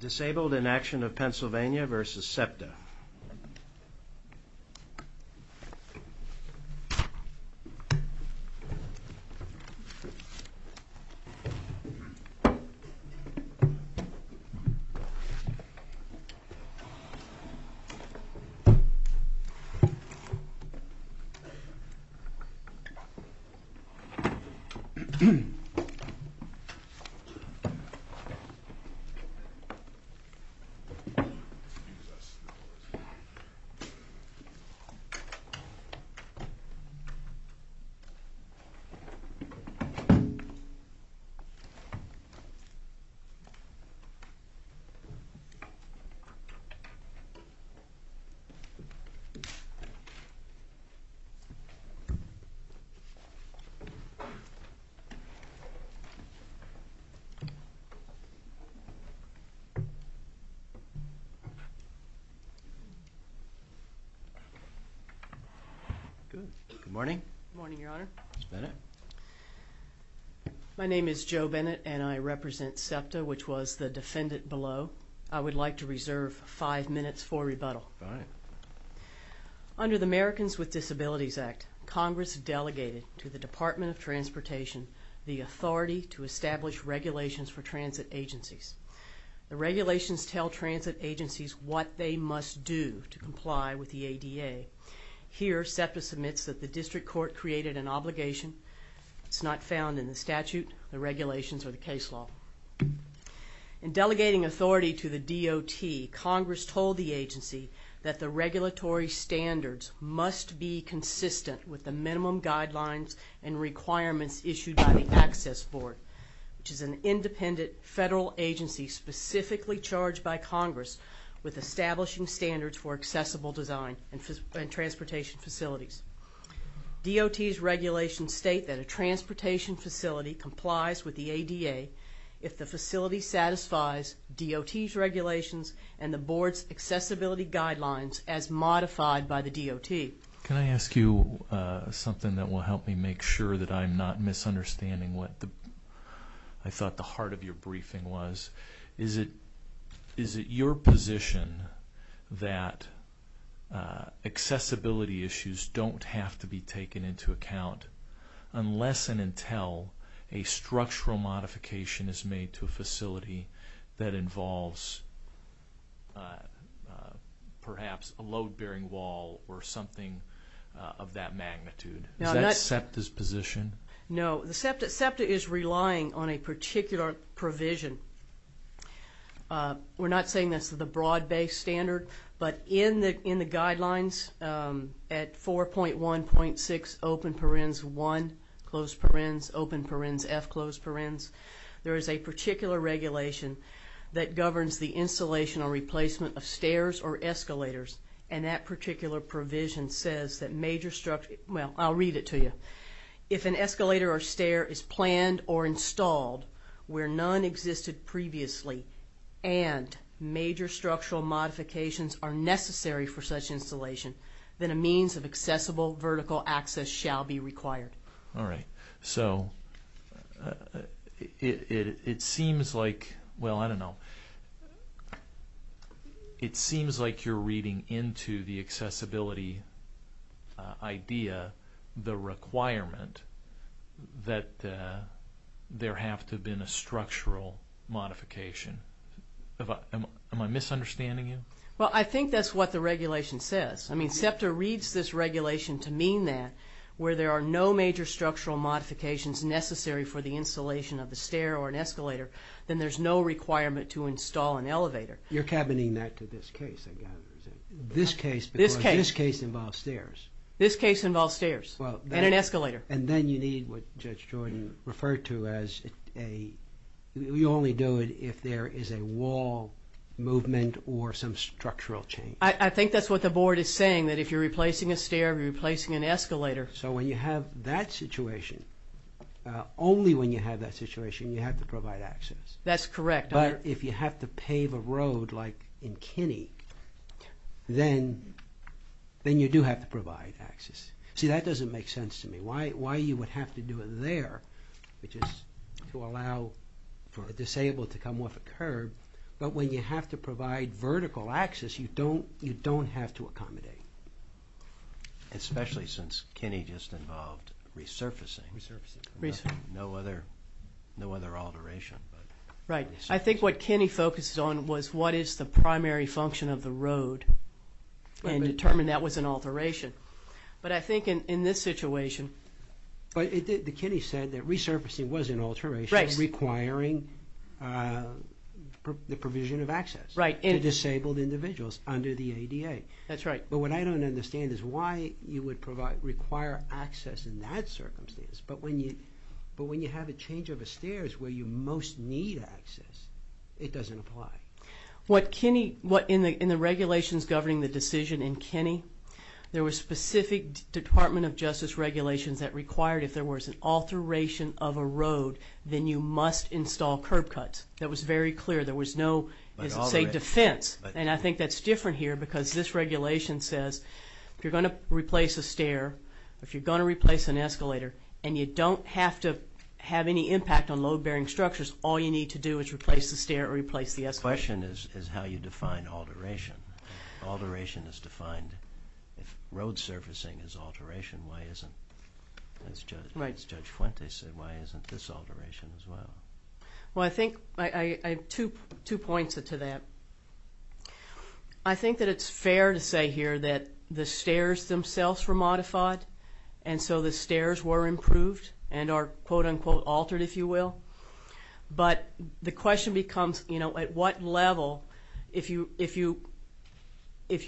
Disabled In Action Of PA v. SEPTA Disabled In Action Of PA v. SEPTA Good morning, your honor. Bennett. My name is Joe Bennett and I represent SEPTA, which was the defendant below. I would like to reserve five minutes for rebuttal. Under the Americans with Disabilities Act, Congress delegated to the Department of Transportation the authority to establish regulations for transit agencies. The regulations tell transit agencies what they must do to comply with the ADA. Here, SEPTA submits that the district court created an obligation. It's not found in the statute, the regulations, or the case law. In delegating authority to the DOT, Congress told the agency that the regulatory standards must be consistent with the minimum guidelines and requirements issued by the Access Board, which is an independent federal agency specifically charged by Congress with establishing standards for accessible design and transportation facilities. DOT's regulations state that a transportation facility complies with the ADA if the facility satisfies DOT's regulations and the board's accessibility guidelines as modified by the DOT. Can I ask you something that will help me make sure that I'm not misunderstanding what I thought the heart of your briefing was? Is it your position that accessibility issues don't have to be taken into account unless and until a structural modification is made to a facility that involves perhaps a load-bearing wall or something of that magnitude? Is that SEPTA's position? No. SEPTA is relying on a particular provision. We're not saying that's the broad-based standard, but in the guidelines at 4.1.6 Open Parens 1, Closed Parens, Open Parens F, Closed Parens, there is a particular regulation that governs the installation or replacement of stairs or escalators, and that particular provision says that major structural... Well, I'll read it to you. If an escalator or stair is planned or installed where none existed previously and major structural modifications are necessary for such installation, then a means of accessible vertical access shall be required. All right. So it seems like... Well, I don't know. It seems like you're reading into the accessibility idea the requirement that there have to have been a structural modification. Am I misunderstanding you? Well, I think that's what the regulation says. I mean, SEPTA reads this regulation to mean that where there are no major structural modifications necessary for the installation of the stair or an escalator, then there's no requirement to install an elevator. You're cabining that to this case, I gather. This case because this case involves stairs. This case involves stairs and an escalator. And then you need what Judge Jordan referred to as a... You only do it if there is a wall movement or some structural change. I think that's what the board is saying, that if you're replacing a stair or you're replacing an escalator... So when you have that situation, only when you have that situation you have to provide access. That's correct. But if you have to pave a road like in Kinney, then you do have to provide access. See, that doesn't make sense to me. Why you would have to do it there, which is to allow for a disabled to come off a curb, but when you have to provide vertical access, you don't have to accommodate. Especially since Kinney just involved resurfacing. No other alteration. Right. I think what Kinney focused on was what is the primary function of the road and determined that was an alteration. But I think in this situation... But Kinney said that resurfacing was an alteration requiring the provision of access to disabled individuals under the ADA. That's right. But what I don't understand is why you would require access in that circumstance, but when you have a change of stairs where you most need access, it doesn't apply. In the regulations governing the decision in Kinney, there were specific Department of Justice regulations that required if there was an alteration of a road, then you must install curb cuts. That was very clear. There was no, say, defense. And I think that's different here because this regulation says if you're going to replace a stair, if you're going to replace an escalator, and you don't have to have any impact on load-bearing structures, all you need to do is replace the stair or replace the escalator. The question is how you define alteration. Alteration is defined. If road surfacing is alteration, why isn't, as Judge Fuentes said, why isn't this alteration as well? Well, I think I have two points to that. I think that it's fair to say here that the stairs themselves were modified, and so the stairs were improved and are quote-unquote altered, if you will. But the question becomes at what level, if you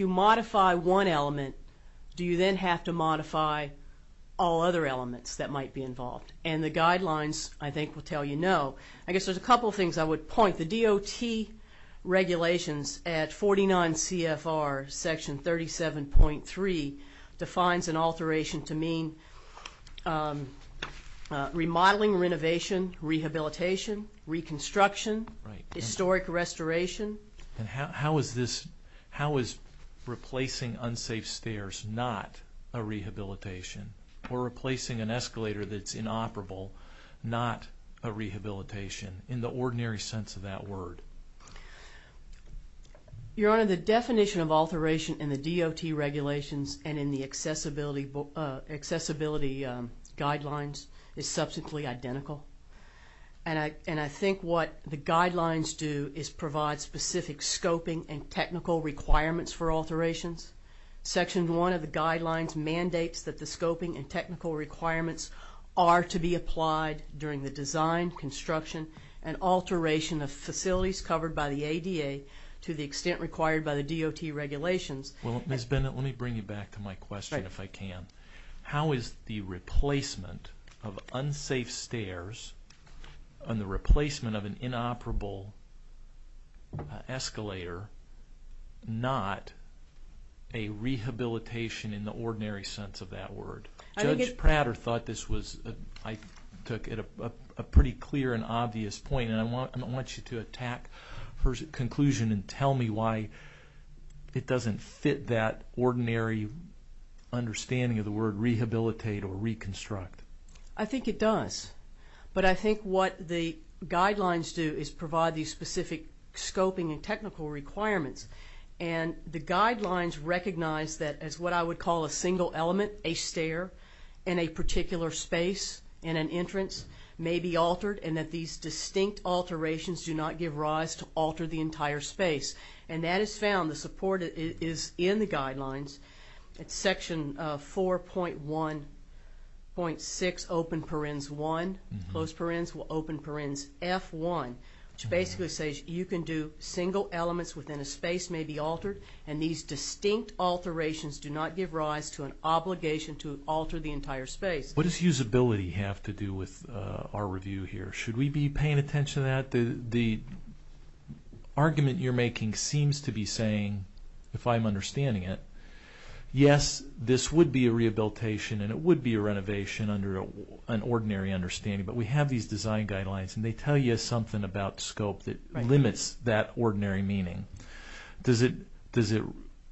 modify one element, do you then have to modify all other elements that might be involved? And the guidelines, I think, will tell you no. I guess there's a couple of things I would point. The DOT regulations at 49 CFR Section 37.3 defines an alteration to mean remodeling, renovation, rehabilitation, reconstruction, historic restoration. And how is this, how is replacing unsafe stairs not a rehabilitation or replacing an escalator that's inoperable not a rehabilitation in the ordinary sense of that word? Your Honor, the definition of alteration in the DOT regulations and in the accessibility guidelines is substantially identical. And I think what the guidelines do is provide specific scoping and technical requirements for alterations. Section 1 of the guidelines mandates that the scoping and technical requirements are to be applied during the design, construction, and alteration of facilities covered by the ADA to the extent required by the DOT regulations. Well, Ms. Bennett, let me bring you back to my question if I can. How is the replacement of unsafe stairs and the replacement of an inoperable escalator not a rehabilitation in the ordinary sense of that word? Judge Prater thought this was, I took it, a pretty clear and obvious point. And I want you to attack her conclusion and tell me why it doesn't fit that ordinary understanding of the word rehabilitate or reconstruct. I think it does. But I think what the guidelines do is provide these specific scoping and technical requirements. And the guidelines recognize that as what I would call a single element, a stair in a particular space in an entrance may be altered and that these distinct alterations do not give rise to alter the entire space. And that is found, the support is in the guidelines. It's section 4.1.6, open parens 1, close parens, open parens F1, which basically says you can do single elements within a space may be altered and these distinct alterations do not give rise to an obligation to alter the entire space. What does usability have to do with our review here? Should we be paying attention to that? The argument you're making seems to be saying, if I'm understanding it, yes, this would be a rehabilitation and it would be a renovation under an ordinary understanding. But we have these design guidelines and they tell you something about scope that limits that ordinary meaning. Does it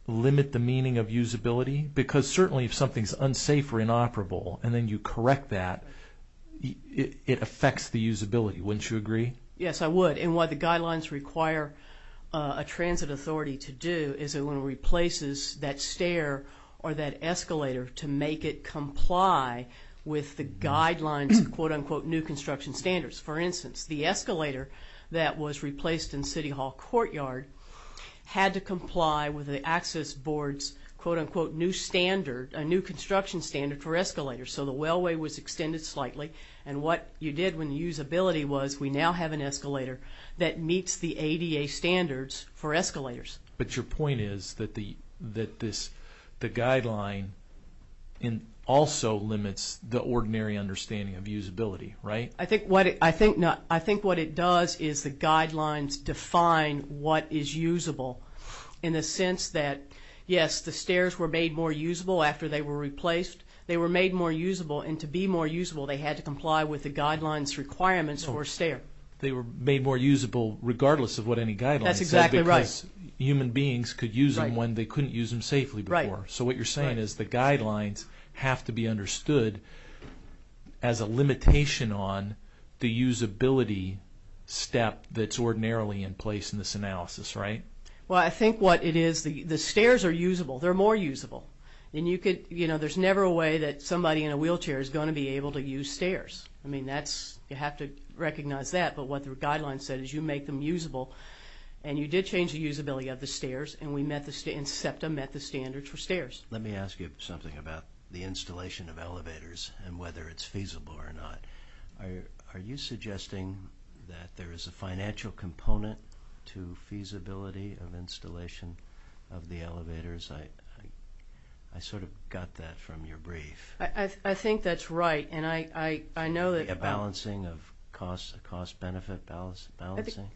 limit the meaning of usability? Because certainly if something is unsafe or inoperable and then you correct that, it affects the usability, wouldn't you agree? Yes, I would. And what the guidelines require a transit authority to do is it replaces that stair or that escalator to make it comply with the guidelines, quote, unquote, new construction standards. For instance, the escalator that was replaced in City Hall Courtyard had to comply with the Access Board's, quote, unquote, new standard, a new construction standard for escalators. So the wellway was extended slightly and what you did when usability was we now have an escalator that meets the ADA standards for escalators. But your point is that the guideline also limits the ordinary understanding of usability, right? I think what it does is the guidelines define what is usable in the sense that, yes, the stairs were made more usable after they were replaced. They were made more usable and to be more usable, they had to comply with the guidelines requirements for a stair. They were made more usable regardless of what any guideline said because human beings could use them when they couldn't use them safely before. So what you're saying is the guidelines have to be understood as a limitation on the usability step that's ordinarily in place in this analysis, right? Well, I think what it is, the stairs are usable. They're more usable. And you could, you know, there's never a way that somebody in a wheelchair is going to be able to use stairs. I mean, that's, you have to recognize that. But what the guidelines said is you make them usable and you did change the usability of the stairs and SEPTA met the standards for stairs. Let me ask you something about the installation of elevators and whether it's feasible or not. Are you suggesting that there is a financial component to feasibility of installation of the elevators? I sort of got that from your brief. I think that's right. And I know that... A balancing of costs, a cost-benefit balancing?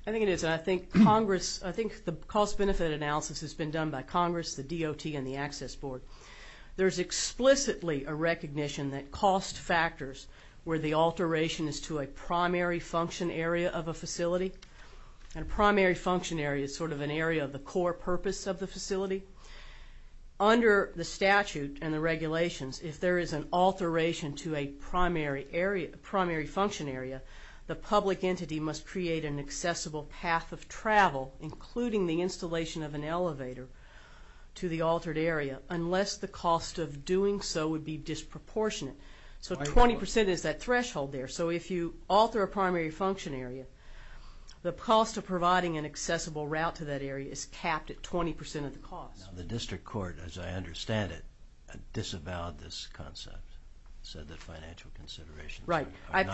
I think it is. I think Congress, I think the cost-benefit analysis has been done by Congress, the DOT, and the Access Board. There's explicitly a recognition that cost factors where the alteration is to a primary function area of a facility, and a primary function area is sort of an area of the core purpose of the facility. Under the statute and the regulations, if there is an alteration to a primary function area, the public entity must create an accessible path of travel, including the installation of an elevator, to the altered area, unless the cost of doing so would be disproportionate. So 20% is that threshold there. So if you alter a primary function area, the cost of providing an accessible route to that area is capped at 20% of the cost. The district court, as I understand it, disavowed this concept, said that financial considerations are not...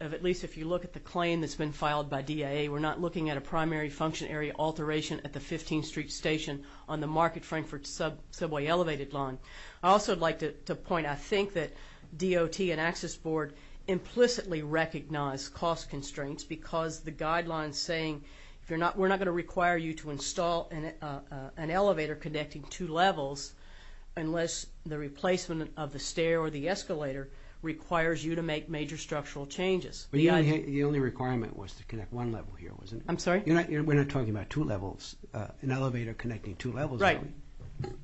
at least if you look at the claim that's been filed by DIA, we're not looking at a primary function area alteration at the 15th Street Station on the Market-Frankfurt subway elevated line. I'd also like to point, I think that DOT and Access Board implicitly recognize cost constraints because the guidelines saying we're not going to require you to install an elevator connecting two levels unless the replacement of the stair or the escalator requires you to make major structural changes. The only requirement was to connect one level here, wasn't it? I'm sorry? We're not talking about two levels, an elevator connecting two levels. Right.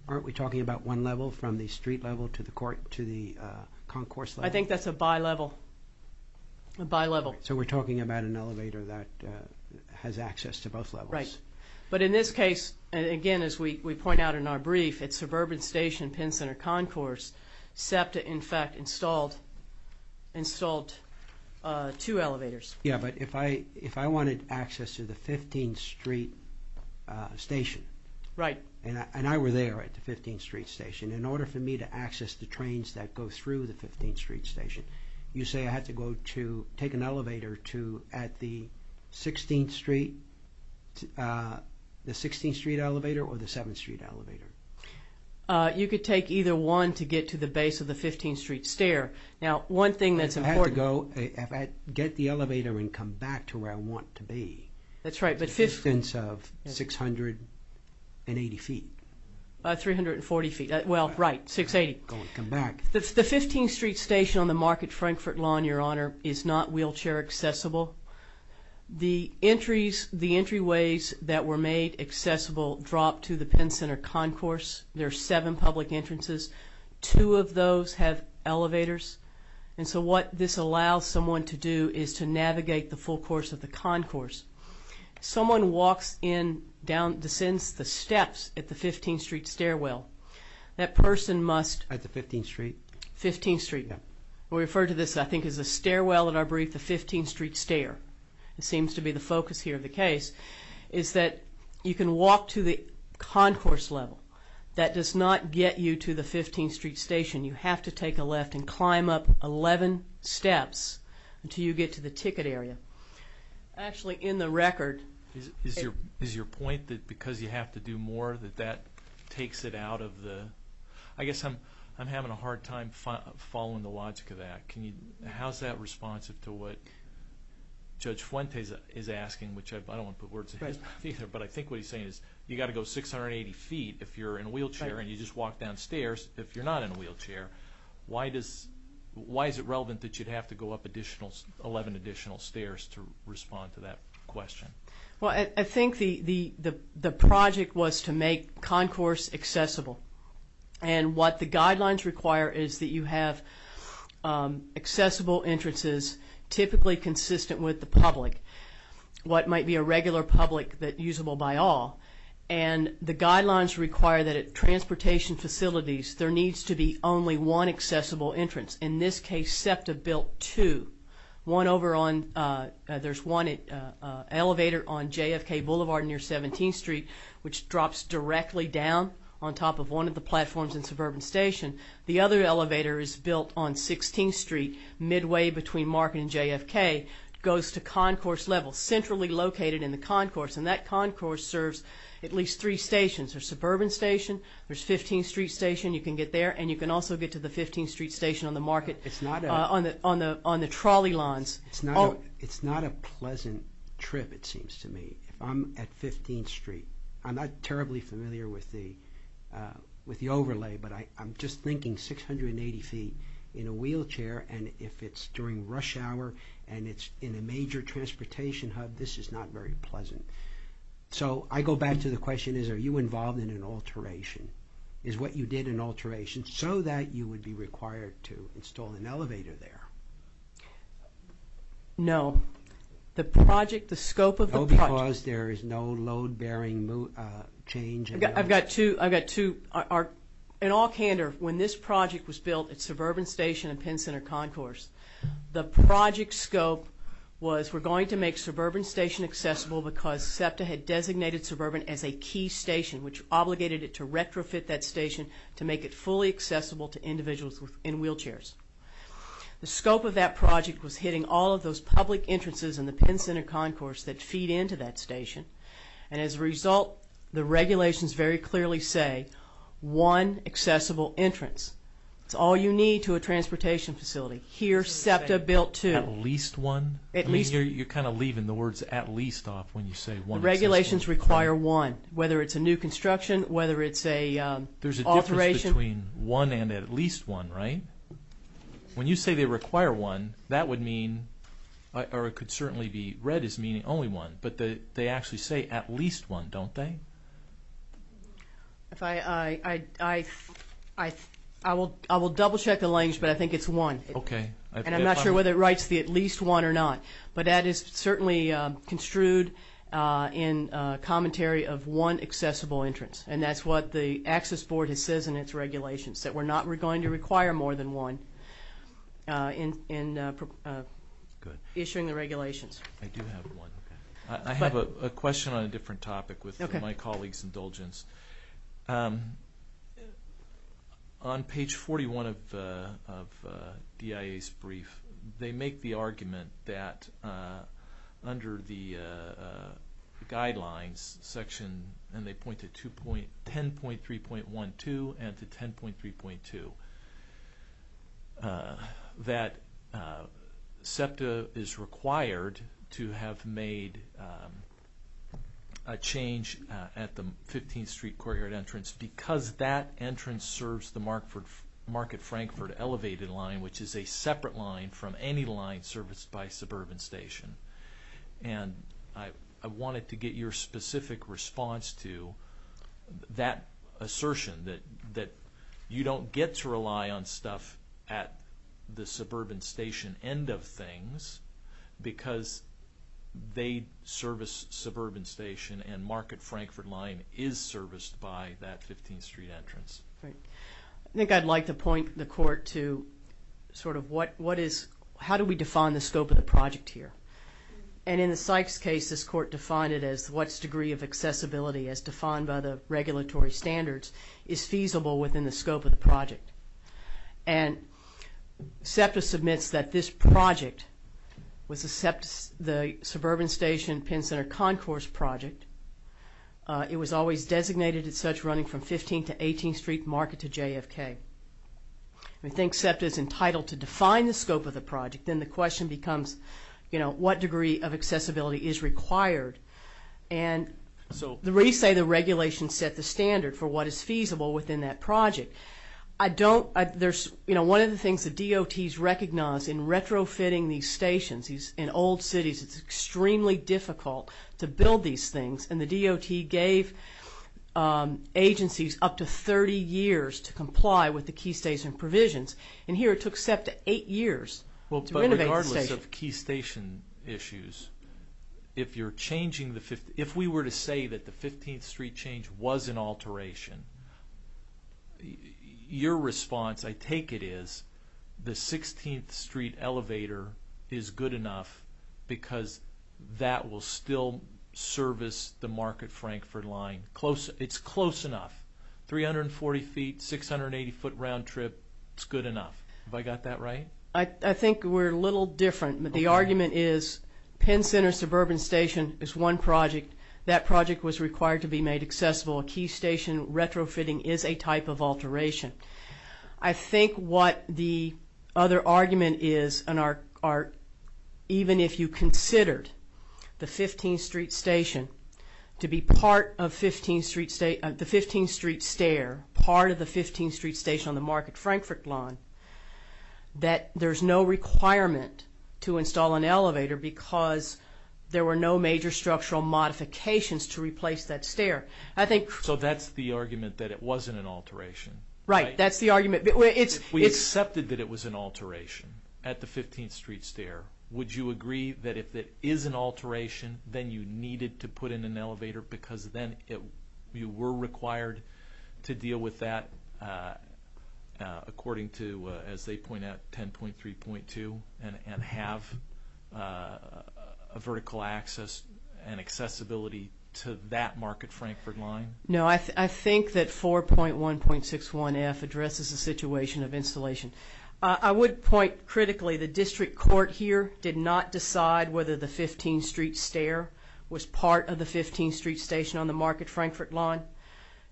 Aren't we talking about one level from the street level to the concourse level? I think that's a bi-level. A bi-level. So we're talking about an elevator that has access to both levels. Right. But in this case, again, as we point out in our brief, at Suburban Station, Penn Center Concourse, SEPTA, in fact, installed two elevators. Yeah, but if I wanted access to the 15th Street Station and I were there at the 15th Street Station, in order for me to access the trains that go through the 15th Street Station, you say I had to go to take an elevator at the 16th Street elevator or the 7th Street elevator? You could take either one to get to the base of the 15th Street stair. Now, one thing that's important. If I get the elevator and come back to where I want to be, the distance of 680 feet. 340 feet. Well, right, 680. The 15th Street Station on the Market-Frankfurt Lawn, Your Honor, is not wheelchair accessible. The entryways that were made accessible drop to the Penn Center Concourse. There are seven public entrances. Two of those have elevators. And so what this allows someone to do is to navigate the full course of the concourse. Someone walks in, descends the steps at the 15th Street stairwell. That person must... At the 15th Street? 15th Street. Yeah. We refer to this, I think, as the stairwell in our brief, the 15th Street stair. It seems to be the focus here of the case, is that you can walk to the concourse level. That does not get you to the 15th Street Station. You have to take a left and climb up 11 steps until you get to the ticket area. Actually, in the record... Is your point that because you have to do more that that takes it out of the... I guess I'm having a hard time following the logic of that. How is that responsive to what Judge Fuente is asking, which I don't want to put words in his mouth either, but I think what he's saying is you've got to go 680 feet if you're in a wheelchair and you just walk down stairs if you're not in a wheelchair. Why is it relevant that you'd have to go up 11 additional stairs to respond to that question? Well, I think the project was to make concourse accessible. And what the guidelines require is that you have accessible entrances typically consistent with the public, what might be a regular public that's usable by all. And the guidelines require that at transportation facilities there needs to be only one accessible entrance. In this case, SEPTA built two. One over on... There's one elevator on JFK Boulevard near 17th Street, which drops directly down on top of one of the platforms in Suburban Station. The other elevator is built on 16th Street, midway between Market and JFK, goes to concourse level, centrally located in the concourse. And that concourse serves at least three stations. There's Suburban Station, there's 15th Street Station, you can get there, and you can also get to the 15th Street Station on the market on the trolley lines. It's not a pleasant trip, it seems to me. If I'm at 15th Street, I'm not terribly familiar with the overlay, but I'm just thinking 680 feet in a wheelchair, and if it's during rush hour and it's in a major transportation hub, this is not very pleasant. So I go back to the question, are you involved in an alteration? Is what you did an alteration so that you would be required to install an elevator there? No. The project, the scope of the project... No, because there is no load-bearing change... I've got two... In all candor, when this project was built at Suburban Station and Penn Center Concourse, the project scope was we're going to make Suburban Station accessible because SEPTA had designated Suburban as a key station, which obligated it to retrofit that station to make it fully accessible to individuals in wheelchairs. The scope of that project was hitting all of those public entrances in the Penn Center Concourse that feed into that station, and as a result, the regulations very clearly say one accessible entrance. It's all you need to a transportation facility. Here, SEPTA built two. At least one? At least... You're kind of leaving the words at least off when you say one accessible... The regulations require one, whether it's a new construction, whether it's an alteration... There's a difference between one and at least one, right? When you say they require one, that would mean, or it could certainly be... Red is meaning only one, but they actually say at least one, don't they? If I... I will double-check the language, but I think it's one. Okay. And I'm not sure whether it writes the at least one or not, but that is certainly construed in commentary of one accessible entrance, and that's what the Access Board says in its regulations, that we're not going to require more than one in issuing the regulations. I do have one. I have a question on a different topic with my colleague's indulgence. On page 41 of DIA's brief, they make the argument that under the guidelines section, and they point to 10.3.1.2 and to 10.3.2, that SEPTA is required to have made a change at the 15th Street Courtyard entrance because that entrance serves the Market-Frankford elevated line, which is a separate line from any line serviced by a suburban station. And I wanted to get your specific response to that assertion, that you don't get to rely on stuff at the suburban station end of things because they service suburban station, and Market-Frankford line is serviced by that 15th Street entrance. Right. I think I'd like to point the Court to sort of what is... how do we define the scope of the project here? And in the Sykes case, this Court defined it as what's degree of accessibility as defined by the regulatory standards is feasible within the scope of the project. And SEPTA submits that this project was the suburban station Penn Center concourse project. It was always designated as such running from 15th to 18th Street Market to JFK. We think SEPTA is entitled to define the scope of the project. Then the question becomes, you know, what degree of accessibility is required? And we say the regulation set the standard for what is feasible within that project. I don't... You know, one of the things the DOTs recognize in retrofitting these stations, in old cities it's extremely difficult to build these things, and the DOT gave agencies up to 30 years to comply with the key station provisions. And here it took SEPTA eight years to renovate the station. In the case of key station issues, if you're changing the 15th... if we were to say that the 15th Street change was an alteration, your response, I take it, is the 16th Street elevator is good enough because that will still service the Market-Frankford line. It's close enough. 340 feet, 680 foot round trip, it's good enough. Have I got that right? I think we're a little different. The argument is Penn Center Suburban Station is one project. That project was required to be made accessible. A key station retrofitting is a type of alteration. I think what the other argument is, even if you considered the 15th Street station to be part of the 15th Street stair, part of the 15th Street station on the Market-Frankford line, that there's no requirement to install an elevator because there were no major structural modifications to replace that stair. So that's the argument that it wasn't an alteration. Right, that's the argument. If we accepted that it was an alteration at the 15th Street stair, would you agree that if it is an alteration, then you needed to put in an elevator because then you were required to deal with that according to, as they point out, 10.3.2 and have a vertical access and accessibility to that Market-Frankford line? No, I think that 4.1.61F addresses the situation of installation. I would point critically, the district court here did not decide whether the 15th Street stair was part of the 15th Street station on the Market-Frankford line.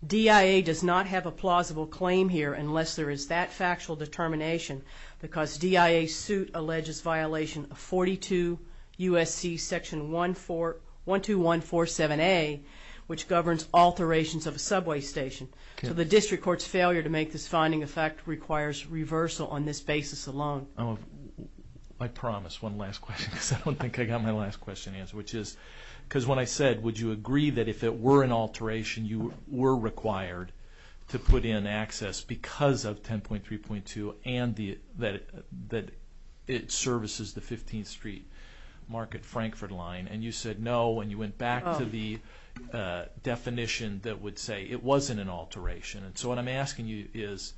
DIA does not have a plausible claim here unless there is that factual determination because DIA's suit alleges violation of 42 U.S.C. section 12147A, which governs alterations of a subway station. So the district court's failure to make this finding of fact requires reversal on this basis alone. I promise one last question because I don't think I got my last question answered. Because when I said, would you agree that if it were an alteration, you were required to put in access because of 10.3.2 and that it services the 15th Street Market-Frankford line, and you said no and you went back to the definition that would say it wasn't an alteration. So what I'm asking you is,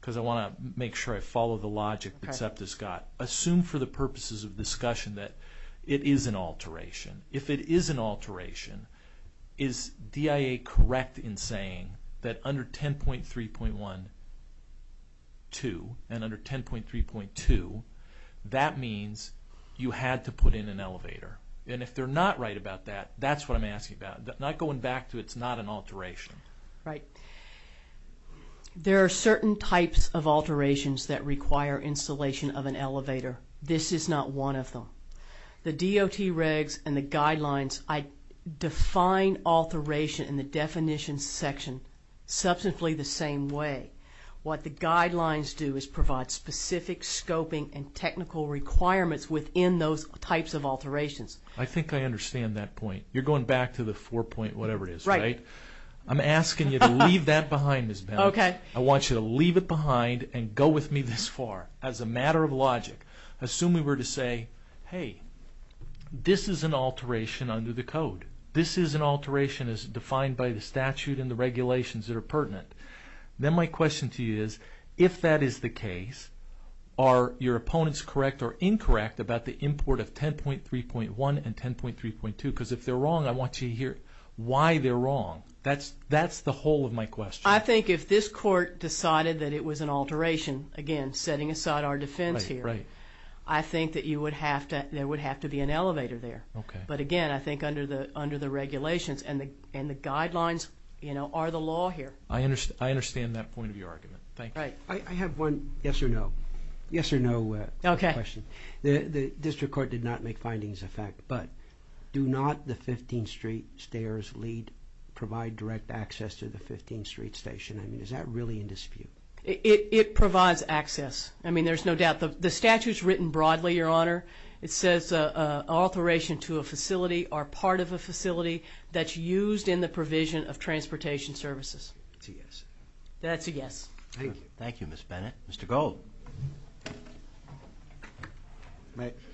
because I want to make sure I follow the logic that SEPTA's got, assume for the purposes of discussion that it is an alteration. If it is an alteration, is DIA correct in saying that under 10.3.1.2 and under 10.3.2, that means you had to put in an elevator? And if they're not right about that, that's what I'm asking about. Not going back to it's not an alteration. Right. There are certain types of alterations that require installation of an elevator. This is not one of them. The DOT regs and the guidelines define alteration in the definition section substantially the same way. What the guidelines do is provide specific scoping and technical requirements within those types of alterations. I think I understand that point. You're going back to the four-point whatever it is, right? I'm asking you to leave that behind, Ms. Benowitz. I want you to leave it behind and go with me this far. As a matter of logic, assume we were to say, hey, this is an alteration under the code. This is an alteration as defined by the statute and the regulations that are pertinent. Then my question to you is, if that is the case, are your opponents correct or incorrect about the import of 10.3.1 and 10.3.2? Because if they're wrong, I want to hear why they're wrong. That's the whole of my question. I think if this court decided that it was an alteration, again, setting aside our defense here, I think that there would have to be an elevator there. But again, I think under the regulations and the guidelines are the law here. I understand that point of your argument. Thank you. I have one yes or no question. The district court did not make findings of fact, but do not the 15th Street stairs lead provide direct access to the 15th Street station? I mean, is that really in dispute? It provides access. I mean, there's no doubt. The statute is written broadly, Your Honor. It says alteration to a facility or part of a facility that's used in the provision of transportation services. That's a yes. That's a yes. Thank you, Ms. Bennett. Mr. Gold.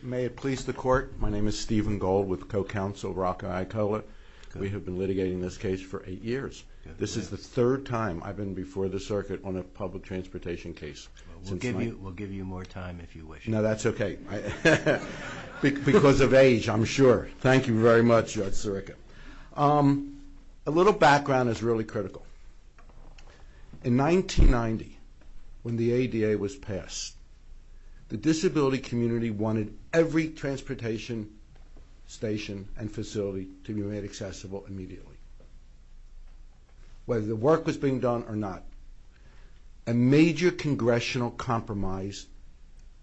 May it please the Court. My name is Stephen Gold with co-counsel Rocca Aicola. We have been litigating this case for eight years. This is the third time I've been before the circuit on a public transportation case. We'll give you more time if you wish. No, that's okay. Because of age, I'm sure. Thank you very much, Your Honor. A little background is really critical. In 1990, when the ADA was passed, the disability community wanted every transportation station and facility to be made accessible immediately. Whether the work was being done or not, a major congressional compromise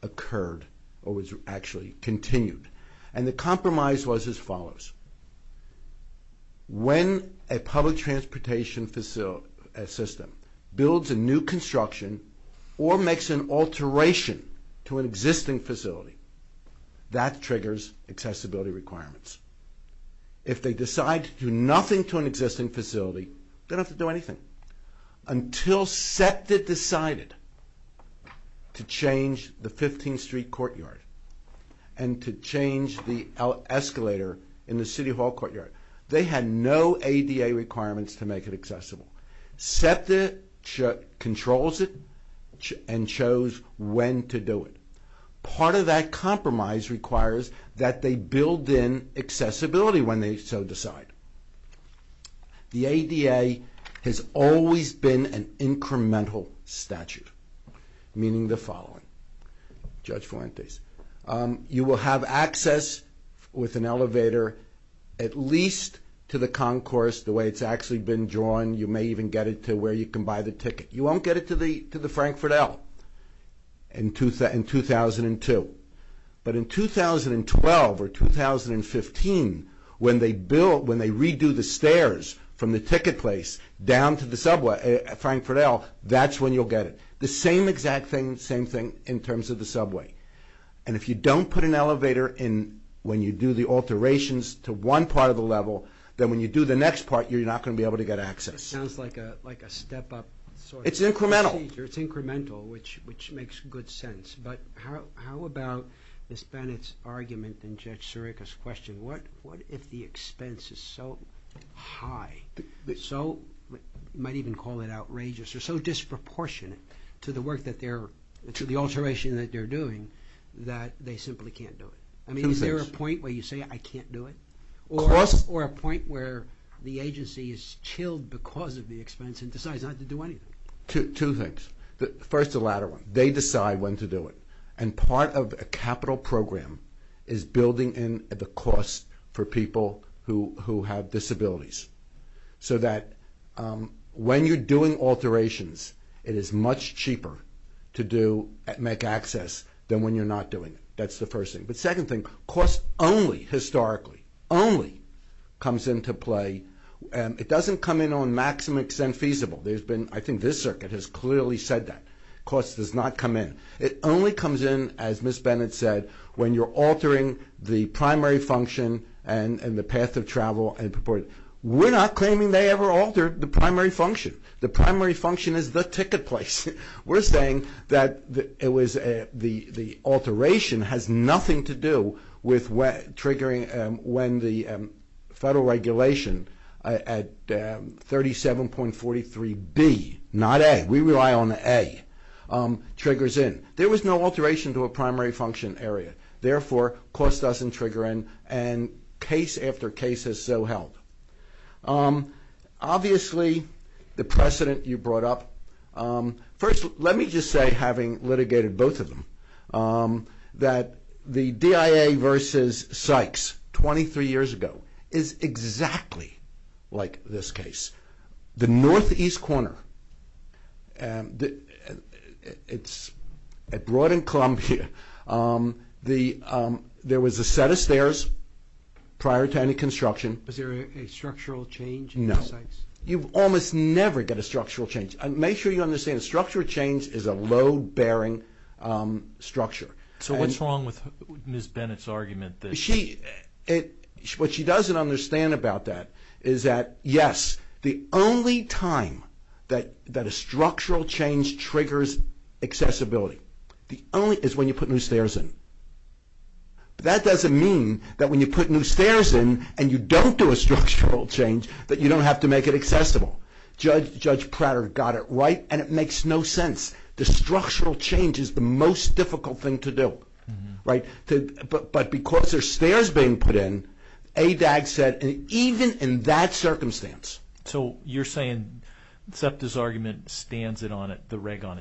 occurred or was actually continued. And the compromise was as follows. When a public transportation system builds a new construction or makes an alteration to an existing facility, that triggers accessibility requirements. If they decide to do nothing to an existing facility, they don't have to do anything. Until SEPTA decided to change the 15th Street Courtyard and to change the escalator in the City Hall Courtyard, they had no ADA requirements to make it accessible. SEPTA controls it and shows when to do it. Part of that compromise requires that they build in accessibility when they so decide. The ADA has always been an incremental statute, meaning the following. Judge Fuentes, you will have access with an elevator at least to the concourse the way it's actually been drawn. You may even get it to where you can buy the ticket. You won't get it to the Frankfurt L in 2002. But in 2012 or 2015, when they redo the stairs from the ticket place down to the subway at Frankfurt L, that's when you'll get it. The same exact thing, same thing in terms of the subway. And if you don't put an elevator in when you do the alterations to one part of the level, then when you do the next part, you're not going to be able to get access. It sounds like a step-up. It's incremental. It's incremental, which makes good sense. But how about Ms. Bennett's argument and Judge Sirica's question? What if the expense is so high, so you might even call it outrageous or so disproportionate to the alteration that they're doing that they simply can't do it? I mean, is there a point where you say, I can't do it? Or a point where the agency is chilled because of the expense and decides not to do anything? Two things. First, the latter one. They decide when to do it. And part of a capital program is building in the cost for people who have disabilities, so that when you're doing alterations, it is much cheaper to make access than when you're not doing it. That's the first thing. But second thing, cost only, historically, only comes into play. It doesn't come in on maximum extent feasible. I think this circuit has clearly said that. Cost does not come in. It only comes in, as Ms. Bennett said, when you're altering the primary function and the path of travel. We're not claiming they ever altered the primary function. The primary function is the ticket place. We're saying that the alteration has nothing to do with triggering when the federal regulation at 37.43B, not A. We rely on the A, triggers in. There was no alteration to a primary function area. Therefore, cost doesn't trigger in, and case after case is so held. Obviously, the precedent you brought up. First, let me just say, having litigated both of them, that the DIA versus Sykes 23 years ago is exactly like this case. The northeast corner, it's broad and clumped here. There was a set of stairs prior to any construction. Was there a structural change in Sykes? No. You almost never get a structural change. Make sure you understand, a structural change is a load-bearing structure. What's wrong with Ms. Bennett's argument? What she doesn't understand about that is that, yes, the only time that a structural change triggers accessibility is when you put new stairs in. That doesn't mean that when you put new stairs in and you don't do a structural change, that you don't have to make it accessible. Judge Pratter got it right, and it makes no sense. The structural change is the most difficult thing to do, right? But because there are stairs being put in, ADAG said even in that circumstance. So you're saying Zepta's argument stands it on its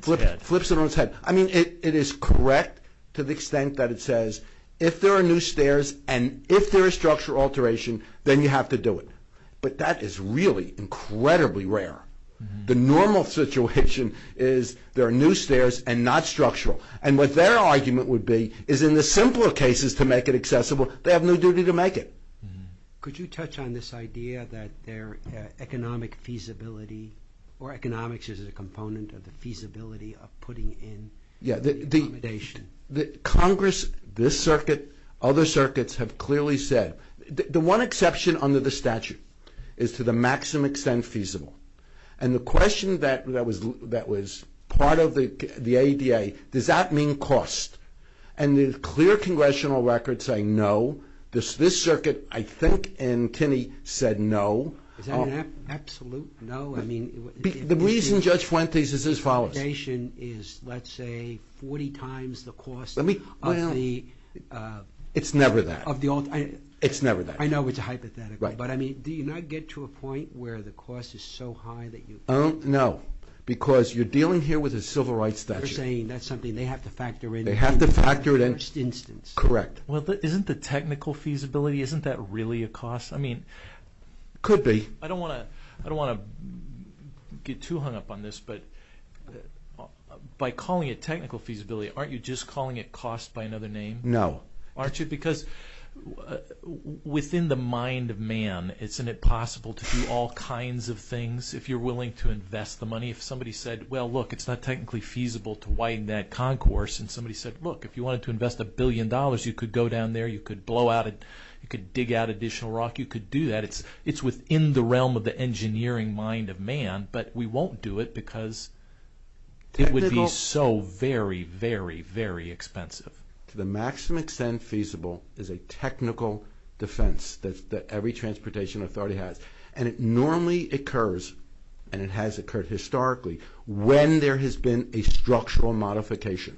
head? Flips it on its head. I mean, it is correct to the extent that it says if there are new stairs and if there is structural alteration, then you have to do it. But that is really incredibly rare. The normal situation is there are new stairs and not structural. And what their argument would be is in the simpler cases to make it accessible, they have no duty to make it. Could you touch on this idea that their economic feasibility, or economics is a component of the feasibility of putting in the accommodation? Congress, this circuit, other circuits, have clearly said the one exception under the statute is to the maximum extent feasible. And the question that was part of the ADA, does that mean cost? And the clear congressional record saying no, this circuit I think in Tinney said no. Is that an absolute no? The reason, Judge Fuentes, is as follows. The accommodation is, let's say, 40 times the cost of the... It's never that. It's never that. I know it's a hypothetical, but do you not get to a point where the cost is so high that you... No, because you're dealing here with a civil rights statute. You're saying that's something they have to factor in. They have to factor it in. First instance. Correct. Isn't the technical feasibility, isn't that really a cost? I mean... Could be. I don't want to get too hung up on this, but by calling it technical feasibility, aren't you just calling it cost by another name? No. Aren't you? Because within the mind of man, isn't it possible to do all kinds of things if you're willing to invest the money? If somebody said, well, look, it's not technically feasible to widen that concourse, and somebody said, look, if you wanted to invest a billion dollars, you could go down there, you could blow out it, you could dig out additional rock, you could do that. It's within the realm of the engineering mind of man, but we won't do it because it would be so very, very, very expensive. To the maximum extent feasible is a technical defense that every transportation authority has, and it normally occurs, and it has occurred historically, when there has been a structural modification.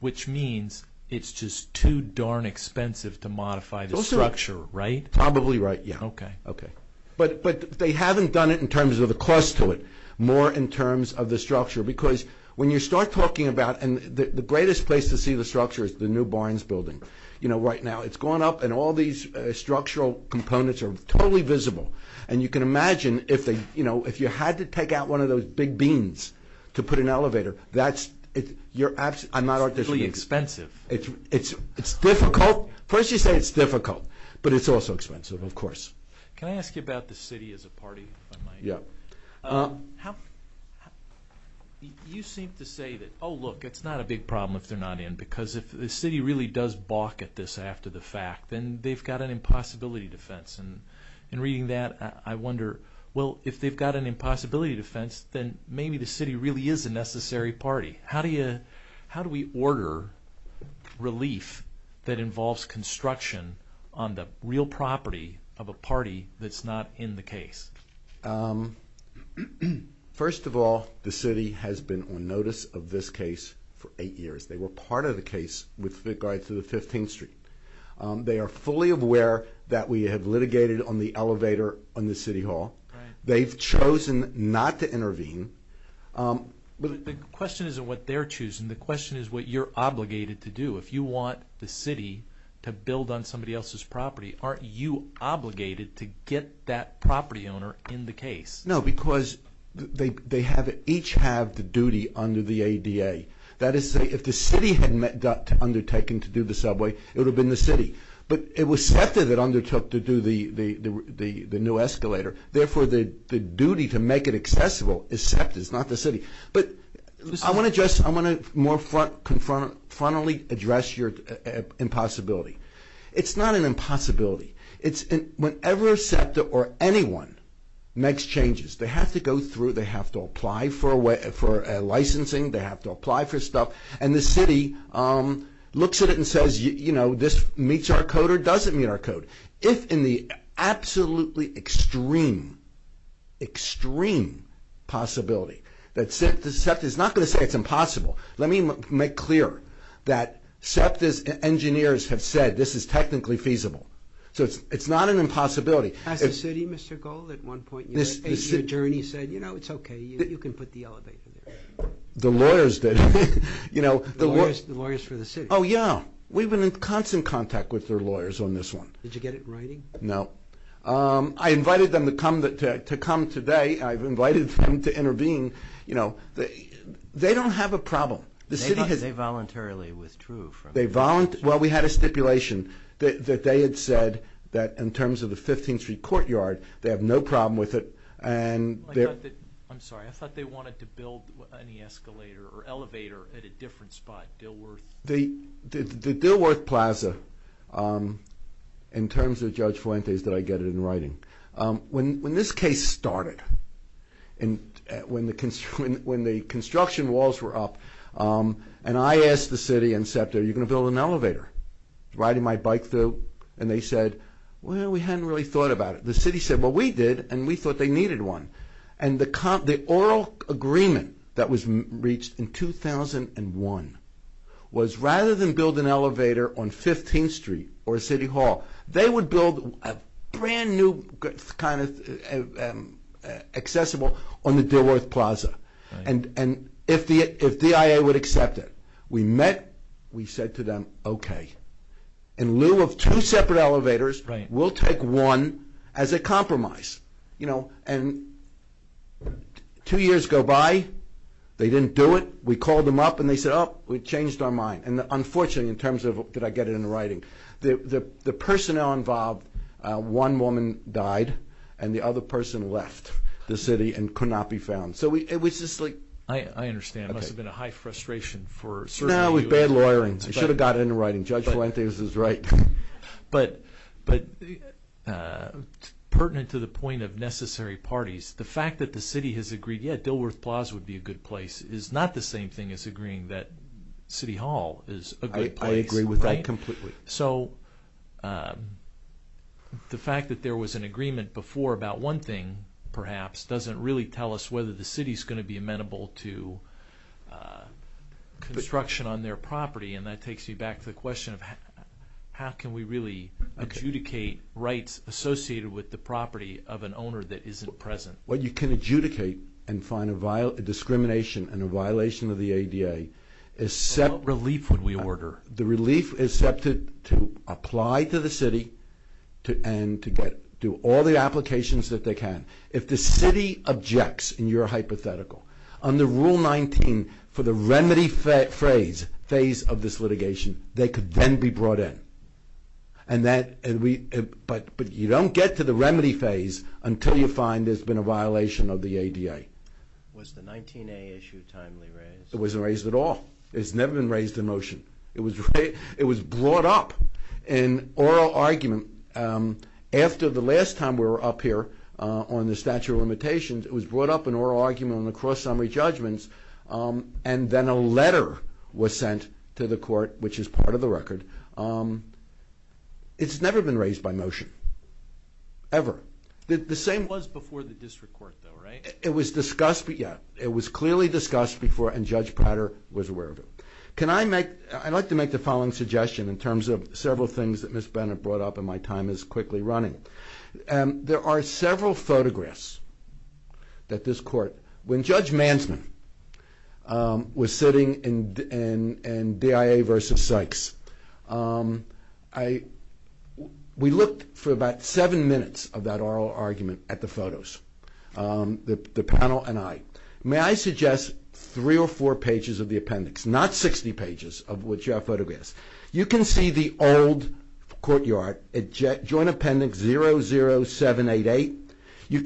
Which means it's just too darn expensive to modify the structure, right? Probably right, yeah. Okay. But they haven't done it in terms of the cost to it, more in terms of the structure, because when you start talking about, and the greatest place to see the structure is the new Barnes building. Right now, it's gone up, and all these structural components are totally visible, to put an elevator, you're absolutely, I'm not, It's really expensive. It's difficult, first you say it's difficult, but it's also expensive, of course. Can I ask you about the city as a party, if I might? Yeah. You seem to say that, oh, look, it's not a big problem if they're not in, because if the city really does balk at this after the fact, then they've got an impossibility defense, and in reading that, I wonder, well, if they've got an impossibility defense, then maybe the city really is a necessary party. How do we order relief that involves construction on the real property of a party that's not in the case? First of all, the city has been on notice of this case for eight years. They were part of the case with regard to the 15th Street. They are fully aware that we have litigated on the elevator on the city hall. They've chosen not to intervene. The question isn't what they're choosing. The question is what you're obligated to do. If you want the city to build on somebody else's property, aren't you obligated to get that property owner in the case? No, because they each have the duty under the ADA. That is, if the city had undertaken to do the subway, it would have been the city. But it was SEPTA that undertook to do the new escalator. Therefore, the duty to make it accessible is SEPTA. It's not the city. But I want to more frontally address your impossibility. It's not an impossibility. Whenever SEPTA or anyone makes changes, they have to go through, they have to apply for licensing, they have to apply for stuff, and the city looks at it and says, you know, this meets our code or doesn't meet our code. If in the absolutely extreme, extreme possibility that SEPTA, SEPTA is not going to say it's impossible. Let me make clear that SEPTA's engineers have said this is technically feasible. So it's not an impossibility. Has the city, Mr. Gold, at one point in your journey said, you know, it's okay, you can put the elevator there? The lawyers did. The lawyers for the city. Oh, yeah. We've been in constant contact with their lawyers on this one. Did you get it writing? No. I invited them to come today. I've invited them to intervene. You know, they don't have a problem. They voluntarily withdrew from it. Well, we had a stipulation that they had said that in terms of the 15th Street courtyard, they have no problem with it. I'm sorry. I thought they wanted to build an escalator or elevator at a different spot, Dilworth. The Dilworth Plaza, in terms of Judge Fuentes, did I get it in writing? When this case started, when the construction walls were up, and I asked the city and SEPTA, are you going to build an elevator? Riding my bike through, and they said, well, we hadn't really thought about it. The city said, well, we did, and we thought they needed one. And the oral agreement that was reached in 2001 was rather than build an elevator on 15th Street or City Hall, they would build a brand-new kind of accessible on the Dilworth Plaza, and if the DIA would accept it. We met. We said to them, okay, in lieu of two separate elevators, we'll take one as a compromise. And two years go by, they didn't do it. We called them up, and they said, oh, we changed our mind. And unfortunately, in terms of did I get it in writing, the personnel involved, one woman died, and the other person left the city and could not be found. So it was just like... I understand. It must have been a high frustration for certain people. No, with bad lawyering. We should have got it in writing. Judge Fuentes is right. But pertinent to the point of necessary parties, the fact that the city has agreed, yeah, Dilworth Plaza would be a good place is not the same thing as agreeing that City Hall is a good place. I agree with that completely. So the fact that there was an agreement before about one thing, perhaps, doesn't really tell us whether the city is going to be amenable to construction on their property, and that takes me back to the question of how can we really adjudicate rights associated with the property of an owner that isn't present? Well, you can adjudicate and find a discrimination and a violation of the ADA. What relief would we order? The relief is set to apply to the city and to do all the applications that they can. If the city objects in your hypothetical, under Rule 19 for the remedy phase of this litigation, they could then be brought in. But you don't get to the remedy phase until you find there's been a violation of the ADA. Was the 19A issue timely raised? It wasn't raised at all. It's never been raised in motion. It was brought up in oral argument. After the last time we were up here on the statute of limitations, it was brought up in oral argument on the cross-summary judgments, and then a letter was sent to the court, which is part of the record. It's never been raised by motion, ever. The same was before the district court, though, right? It was discussed, yeah. It was clearly discussed before, and Judge Prater was aware of it. Can I make... I'd like to make the following suggestion in terms of several things that Ms. Bennett brought up and my time is quickly running. There are several photographs that this court... When Judge Mansman was sitting in DIA v. Sykes, we looked for about seven minutes of that oral argument at the photos, the panel and I. May I suggest three or four pages of the appendix, not 60 pages of which are photographs. You can see the old courtyard, Joint Appendix 00788. You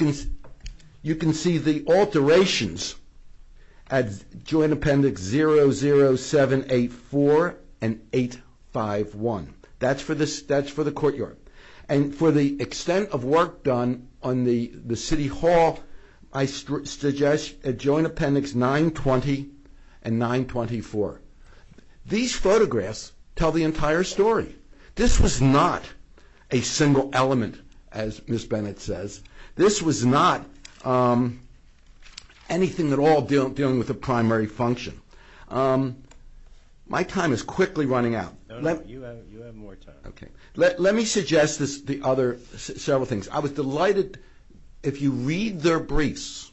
can see the alterations at Joint Appendix 00784 and 851. That's for the courtyard. And for the extent of work done on the city hall, I suggest Joint Appendix 920 and 924. These photographs tell the entire story. This was not a single element, as Ms. Bennett says. This was not anything at all dealing with the primary function. My time is quickly running out. No, no, you have more time. Let me suggest several things. I was delighted... If you read their briefs,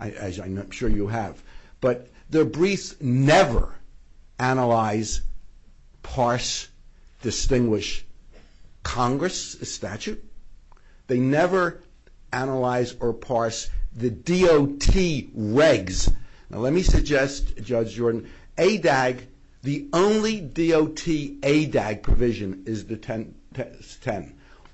as I'm sure you have, but their briefs never analyze, parse, distinguish Congress statute. They never analyze or parse the DOT regs. Now let me suggest, Judge Jordan, ADAG, the only DOT ADAG provision is the 10.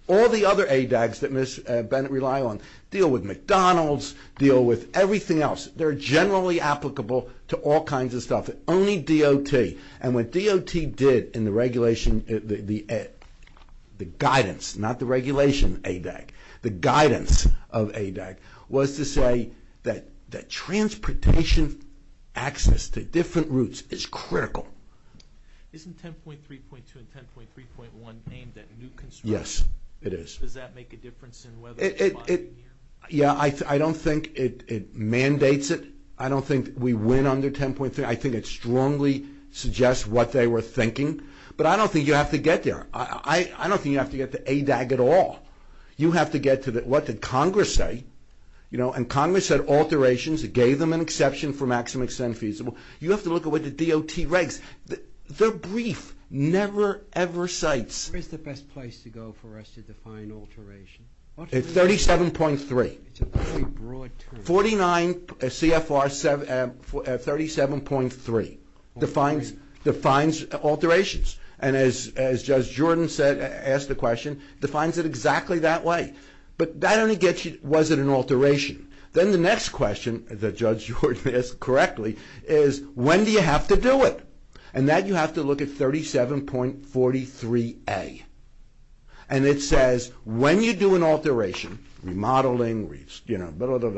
All the other ADAGs that Ms. Bennett relies on deal with McDonald's, deal with everything else. They're generally applicable to all kinds of stuff, only DOT. And what DOT did in the regulation, the guidance, not the regulation ADAG, the guidance of ADAG, was to say that transportation access to different routes is critical. Isn't 10.3.2 and 10.3.1 aimed at new construction? Yes, it is. Does that make a difference in whether... Yeah, I don't think it mandates it. I don't think we win under 10.3. I think it strongly suggests what they were thinking. But I don't think you have to get there. I don't think you have to get to ADAG at all. You have to get to what did Congress say. And Congress said alterations. It gave them an exception for maximum extent feasible. You have to look at what the DOT regs. Their brief never, ever cites... Where is the best place to go for us to define alteration? At 37.3. It's a very broad term. 49 CFR 37.3 defines alterations. And as Judge Jordan asked the question, defines it exactly that way. But that only gets you was it an alteration. Then the next question that Judge Jordan asked correctly is when do you have to do it? And that you have to look at 37.43A. And it says when you do an alteration, remodeling,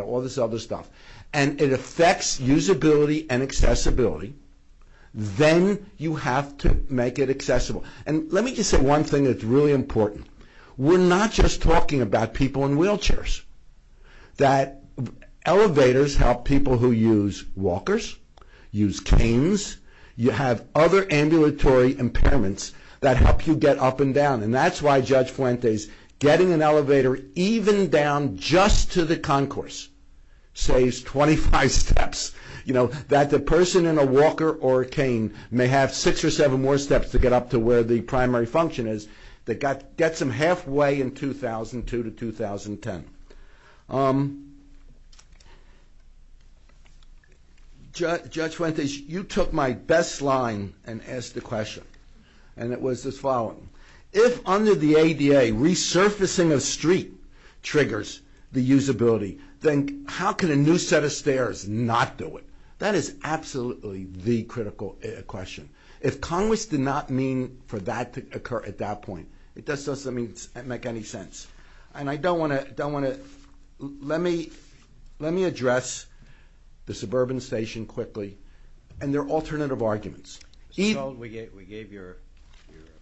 all this other stuff, and it affects usability and accessibility, then you have to make it accessible. And let me just say one thing that's really important. We're not just talking about people in wheelchairs. That elevators help people who use walkers, use canes. You have other ambulatory impairments that help you get up and down. And that's why Judge Fuentes, getting an elevator even down just to the concourse saves 25 steps. You know, that the person in a walker or a cane may have six or seven more steps to get up to where the primary function is that gets them halfway in 2002 to 2010. Judge Fuentes, you took my best line and asked a question. And it was the following. If under the ADA resurfacing of street triggers the usability, then how can a new set of stairs not do it? That is absolutely the critical question. If Congress did not mean for that to occur at that point, it doesn't make any sense. And I don't want to get into that. Let me address the suburban station quickly and their alternative arguments. We gave your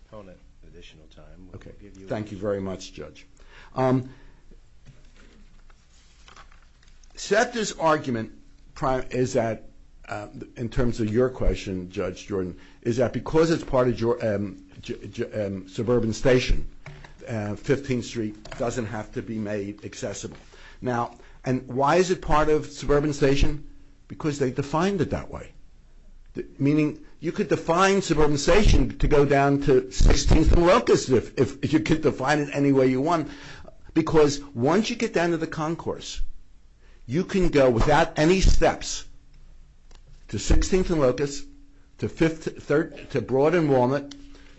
opponent additional time. Thank you very much, Judge. Set this argument in terms of your question, Judge Jordan, is that because it's part of suburban station, 15th Street doesn't have to be made accessible. Now, and why is it part of suburban station? Because they defined it that way. Meaning you could define suburban station to go down to 16th and Locust if you could define it any way you want. Because once you get down to the concourse, you can go without any steps to 16th and Locust, to Broad and Walnut,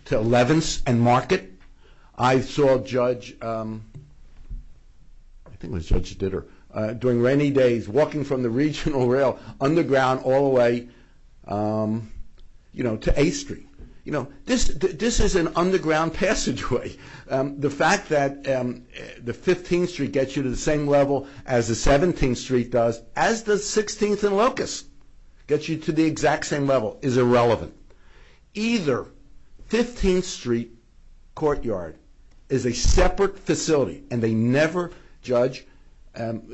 to 11th and Market. I saw Judge, I think it was Judge Ditter, during rainy days walking from the Regional Rail underground all the way to 8th Street. This is an underground passageway. The fact that the 15th Street gets you to the same level as the 17th Street does, as does 16th and Locust, gets you to the exact same level is irrelevant. Either 15th Street Courtyard is a separate facility and they never judge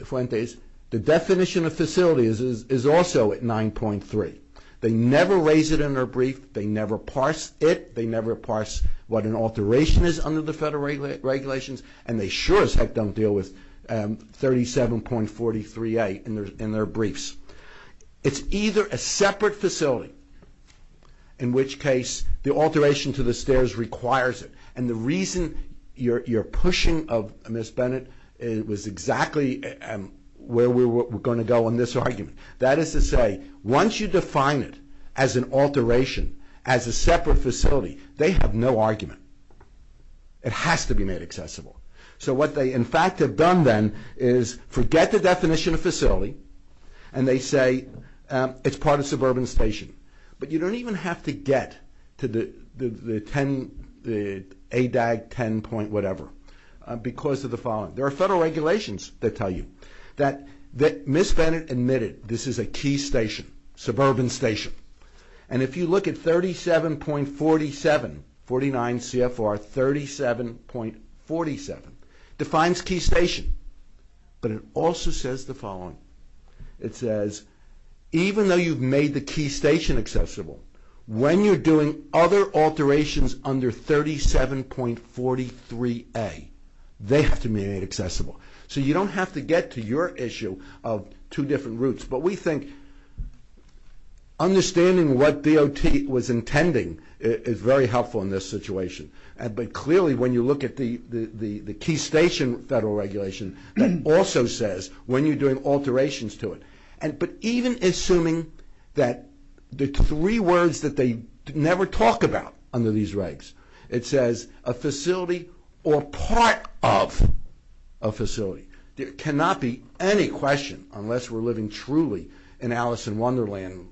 Fuentes. The definition of facility is also at 9.3. They never raise it in their brief. They never parse it. They never parse what an alteration is under the federal regulations. And they sure as heck don't deal with 37.43a in their briefs. It's either a separate facility, in which case the alteration to the stairs requires it. And the reason you're pushing of Ms. Bennett was exactly where we're going to go on this argument. That is to say, once you define it as an alteration, as a separate facility, they have no argument. It has to be made accessible. So what they in fact have done then is forget the definition of facility and they say it's part of suburban station. But you don't even have to get to the 10, the ADAG 10 point whatever, because of the following. There are federal regulations that tell you that Ms. Bennett admitted this is a key station, suburban station. And if you look at 37.47, 49 CFR 37.47, defines key station. But it also says the following. It says even though you've made the key station accessible, when you're doing other alterations under 37.43a, they have to be made accessible. So you don't have to get to your issue of two different routes. But we think understanding what DOT was intending is very helpful in this situation. But clearly when you look at the key station federal regulation, that also says when you're doing alterations to it. But even assuming that the three words that they never talk about under these regs, it says a facility or part of a facility. There cannot be any question, unless we're living truly in Alice in Wonderland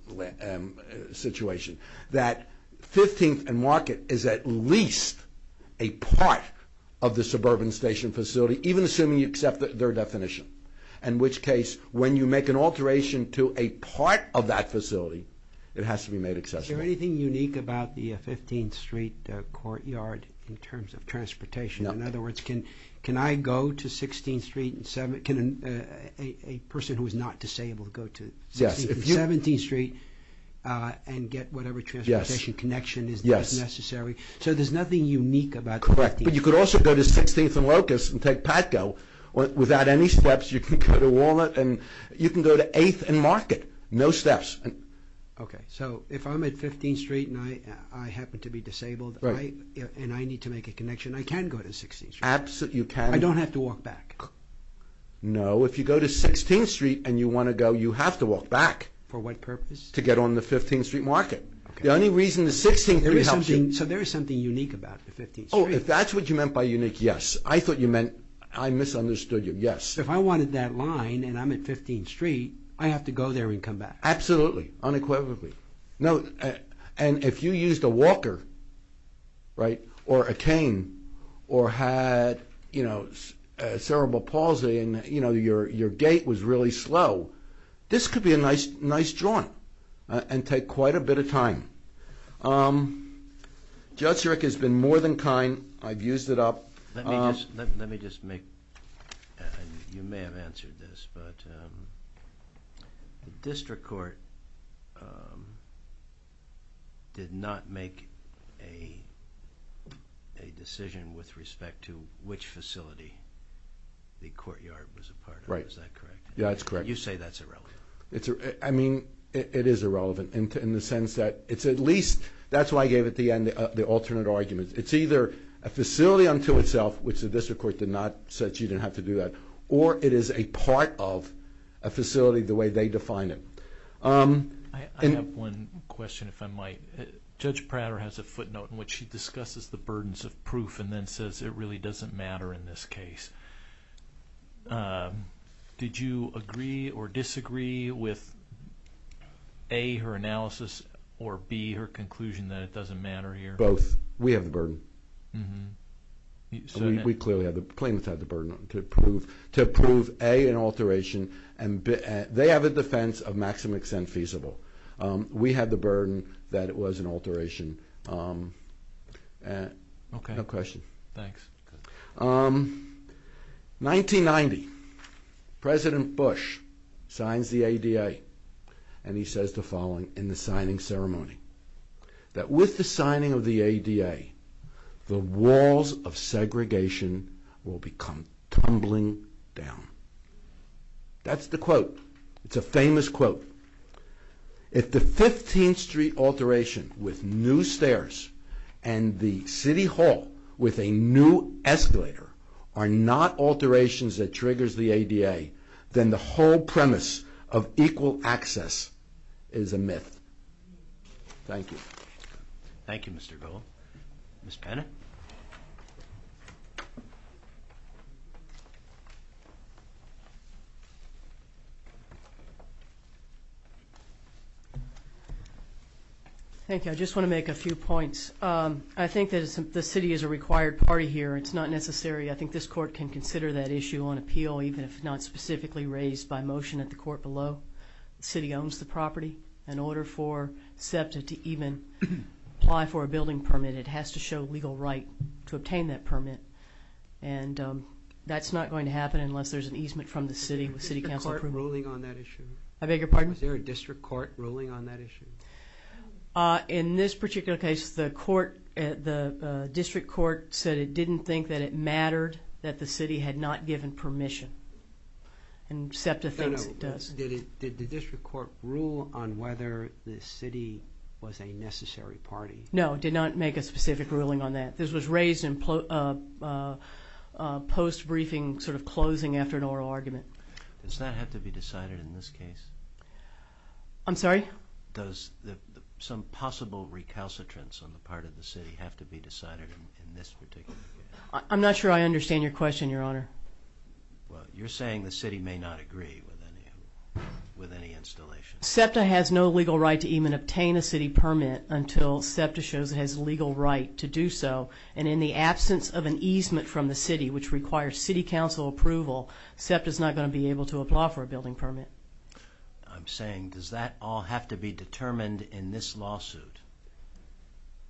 situation, that 15th and Market is at least a part of the suburban station facility, even assuming you accept their definition. In which case, when you make an alteration to a part of that facility, it has to be made accessible. Is there anything unique about the 15th Street courtyard in terms of transportation? In other words, can I go to 16th Street, a person who is not disabled, to go to 16th and 17th Street and get whatever transportation connection is necessary? So there's nothing unique about... Correct, but you could also go to 16th and Locust and take Patco. Without any steps, you can go to Walnut and you can go to 8th and Market. No steps. Okay, so if I'm at 15th Street and I happen to be disabled and I need to make a connection, I can go to 16th Street. Absolutely, you can. I don't have to walk back. No, if you go to 16th Street and you want to go, you have to walk back. For what purpose? To get on the 15th Street Market. The only reason the 16th Street helps you... So there is something unique about the 15th Street. Oh, if that's what you meant by unique, yes. I thought you meant... I misunderstood you, yes. If I wanted that line and I'm at 15th Street, I have to go there and come back. Absolutely, unequivocally. And if you used a walker or a cane or had cerebral palsy and your gait was really slow, this could be a nice jaunt and take quite a bit of time. Judge Eric has been more than kind. I've used it up. Let me just make... You may have answered this, but the District Court did not make a decision with respect to which facility the courtyard was a part of. Is that correct? Yes, that's correct. You say that's irrelevant. I mean, it is irrelevant in the sense that it's at least... That's why I gave at the end the alternate argument. It's either a facility unto itself, which the District Court did not... said she didn't have to do that, or it is a part of a facility the way they defined it. I have one question, if I might. Judge Prater has a footnote in which she discusses the burdens of proof and then says it really doesn't matter in this case. Did you agree or disagree with A, her analysis, or B, her conclusion that it doesn't matter here? Both. We have the burden. We clearly have the... Claimants have the burden to prove A, an alteration, and they have a defense of maximum extent feasible. We have the burden that it was an alteration. Okay. No question. Thanks. 1990, President Bush signs the ADA, and he says the following in the signing ceremony, that with the signing of the ADA, the walls of segregation will become tumbling down. That's the quote. It's a famous quote. If the 15th Street alteration with new stairs and the City Hall with a new escalator are not alterations that triggers the ADA, then the whole premise of equal access is a myth. Thank you. Thank you, Mr. Gold. Ms. Bennett. Thank you. I just want to make a few points. I think that the city is a required party here. It's not necessary. I think this court can consider that issue on appeal, even if not specifically raised by motion at the court below. The city owns the property. In order for SEPTA to even apply for a building permit, it has to show legal right to obtain that permit, and that's not going to happen unless there's an easement from the city with city council approval. Is the court ruling on that issue? I beg your pardon? Was there a district court ruling on that issue? In this particular case, the district court said it didn't think that it mattered that the city had not given permission, and SEPTA thinks it does. Did the district court rule on whether the city was a necessary party? No, it did not make a specific ruling on that. This was raised in post-briefing, sort of closing after an oral argument. Does that have to be decided in this case? I'm sorry? Does some possible recalcitrance on the part of the city have to be decided in this particular case? I'm not sure I understand your question, Your Honor. Well, you're saying the city may not agree with any installation. SEPTA has no legal right to even obtain a city permit until SEPTA shows it has legal right to do so, and in the absence of an easement from the city, which requires city council approval, SEPTA is not going to be able to apply for a building permit. I'm saying, does that all have to be determined in this lawsuit?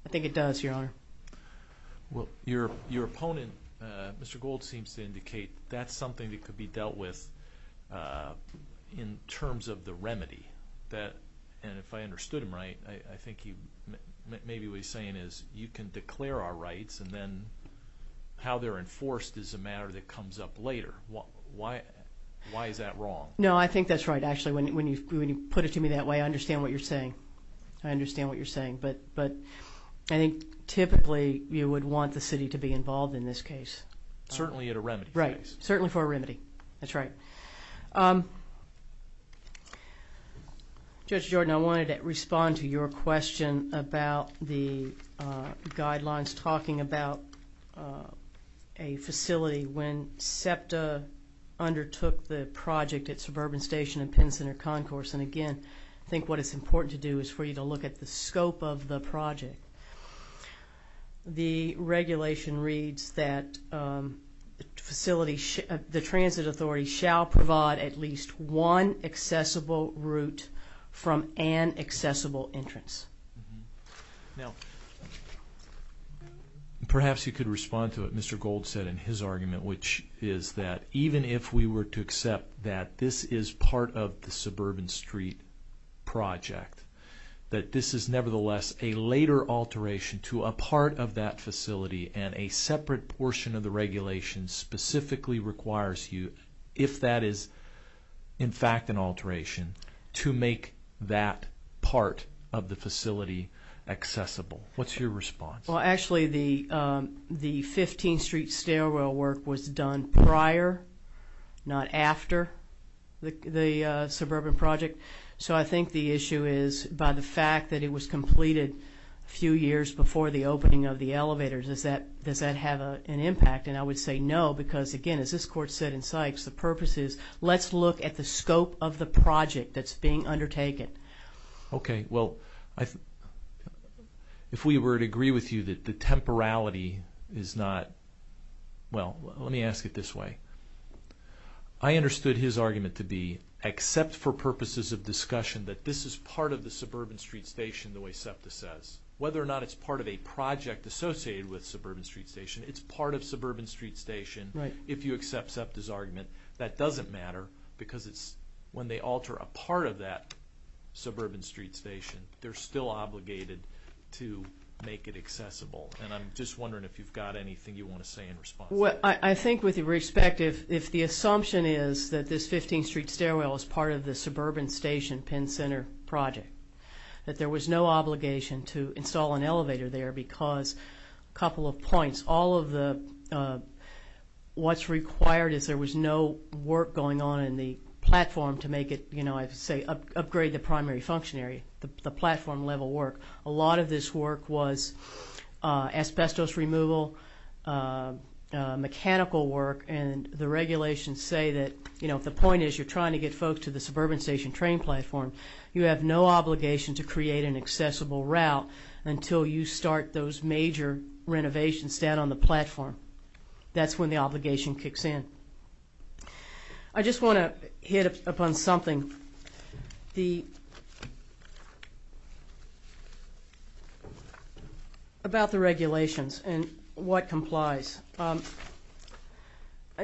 I think it does, Your Honor. Well, your opponent, Mr. Gould, seems to indicate that's something that could be dealt with in terms of the remedy. And if I understood him right, I think maybe what he's saying is you can declare our rights, and then how they're enforced is a matter that comes up later. Why is that wrong? No, I think that's right. Actually, when you put it to me that way, I understand what you're saying. I understand what you're saying. But I think typically you would want the city to be involved in this case. Certainly at a remedy. Right. Certainly for a remedy. That's right. Judge Jordan, I wanted to respond to your question about the guidelines talking about a facility when SEPTA undertook the project at Suburban Station and Penn Center Concourse. And, again, I think what it's important to do is for you to look at the scope of the project. The regulation reads that the transit authority shall provide at least one accessible route from an accessible entrance. Now, perhaps you could respond to what Mr. Gold said in his argument, which is that even if we were to accept that this is part of the Suburban Street project, that this is nevertheless a later alteration to a part of that facility, and a separate portion of the regulation specifically requires you, if that is in fact an alteration, to make that part of the facility accessible. What's your response? Well, actually, the 15th Street stairwell work was done prior, not after, the Suburban project. So I think the issue is by the fact that it was completed a few years before the opening of the elevators, does that have an impact? And I would say no, because, again, as this court said in Sykes, the purpose is let's look at the scope of the project that's being undertaken. Okay. Well, if we were to agree with you that the temporality is not, well, let me ask it this way. I understood his argument to be, except for purposes of discussion, that this is part of the Suburban Street Station, the way SEPTA says. Whether or not it's part of a project associated with Suburban Street Station, that doesn't matter because when they alter a part of that Suburban Street Station, they're still obligated to make it accessible. And I'm just wondering if you've got anything you want to say in response. Well, I think with respect, if the assumption is that this 15th Street stairwell is part of the Suburban Station Penn Center project, that there was no obligation to install an elevator there because, a couple of points, all of the what's required is there was no work going on in the platform to make it, you know, I say upgrade the primary function area, the platform level work. A lot of this work was asbestos removal, mechanical work, and the regulations say that, you know, if the point is you're trying to get folks to the Suburban Station train platform, you have no obligation to create an accessible route until you start those major renovations down on the platform. That's when the obligation kicks in. I just want to hit upon something about the regulations and what complies. I'll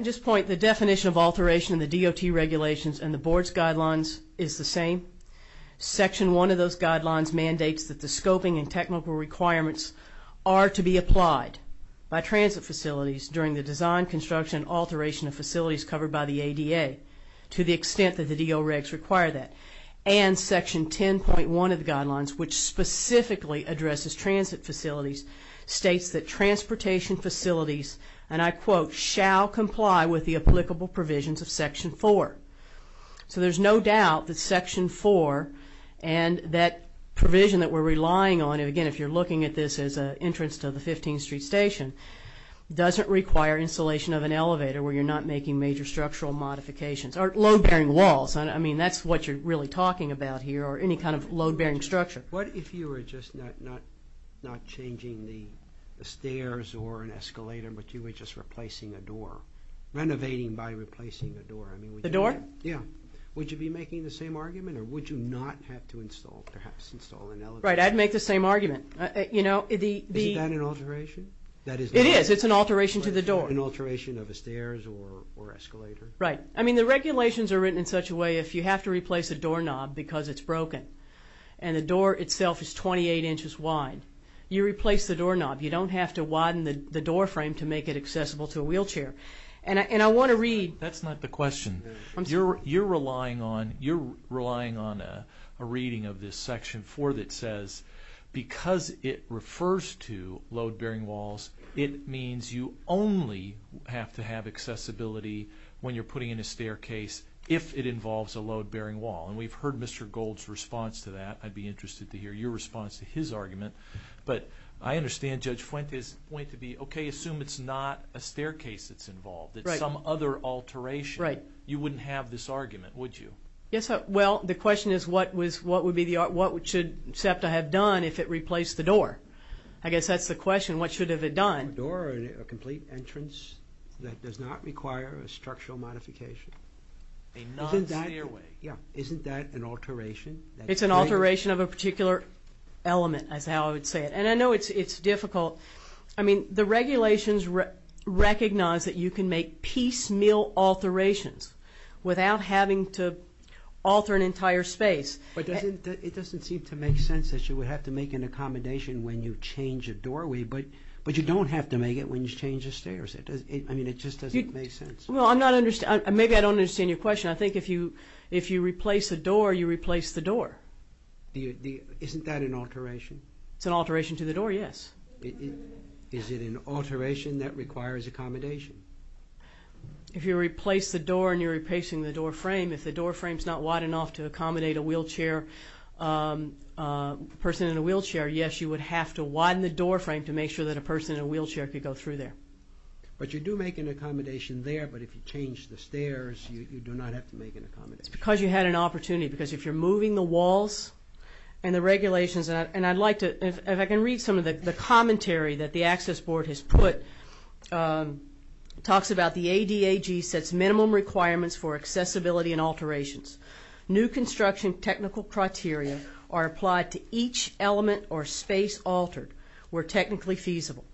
just point, the definition of alteration in the DOT regulations and the board's guidelines is the same. Section 1 of those guidelines mandates that the scoping and technical requirements are to be applied by transit facilities during the design, construction, and alteration of facilities covered by the ADA to the extent that the DO regs require that. And Section 10.1 of the guidelines, which specifically addresses transit facilities, states that transportation facilities, and I quote, shall comply with the applicable provisions of Section 4. So there's no doubt that Section 4 and that provision that we're relying on, and again, if you're looking at this as an entrance to the 15th Street Station, doesn't require installation of an elevator where you're not making major structural modifications or load-bearing walls. I mean, that's what you're really talking about here or any kind of load-bearing structure. What if you were just not changing the stairs or an escalator, but you were just replacing a door, renovating by replacing a door? The door? Yeah. Would you be making the same argument or would you not have to install, perhaps install an elevator? Right, I'd make the same argument. Isn't that an alteration? It is. It's an alteration to the door. An alteration of a stairs or escalator? Right. I mean, the regulations are written in such a way if you have to replace a doorknob because it's broken and the door itself is 28 inches wide, you replace the doorknob. You don't have to widen the doorframe to make it accessible to a wheelchair. And I want to read. That's not the question. You're relying on a reading of this Section 4 that says because it refers to load-bearing walls, it means you only have to have accessibility when you're putting in a staircase if it involves a load-bearing wall. And we've heard Mr. Gold's response to that. I'd be interested to hear your response to his argument. But I understand Judge Fuente's point to be, okay, assume it's not a staircase that's involved. Right. It's some other alteration. Right. You wouldn't have this argument, would you? Well, the question is what should SEPTA have done if it replaced the door? I guess that's the question. What should it have done? A door or a complete entrance that does not require a structural modification. Isn't that an alteration? It's an alteration of a particular element is how I would say it. And I know it's difficult. I mean, the regulations recognize that you can make piecemeal alterations without having to alter an entire space. But it doesn't seem to make sense that you would have to make an accommodation when you change a doorway, but you don't have to make it when you change the stairs. I mean, it just doesn't make sense. Well, maybe I don't understand your question. I think if you replace a door, you replace the door. Isn't that an alteration? It's an alteration to the door, yes. Is it an alteration that requires accommodation? If you replace the door and you're replacing the doorframe, if the doorframe's not wide enough to accommodate a wheelchair, a person in a wheelchair, yes, you would have to widen the doorframe to make sure that a person in a wheelchair could go through there. But you do make an accommodation there, but if you change the stairs, you do not have to make an accommodation. It's because you had an opportunity, because if you're moving the walls and the regulations, and I'd like to, if I can read some of the commentary that the Access Board has put. It talks about the ADAG sets minimum requirements for accessibility and alterations. New construction technical criteria are applied to each element or space altered where technically feasible.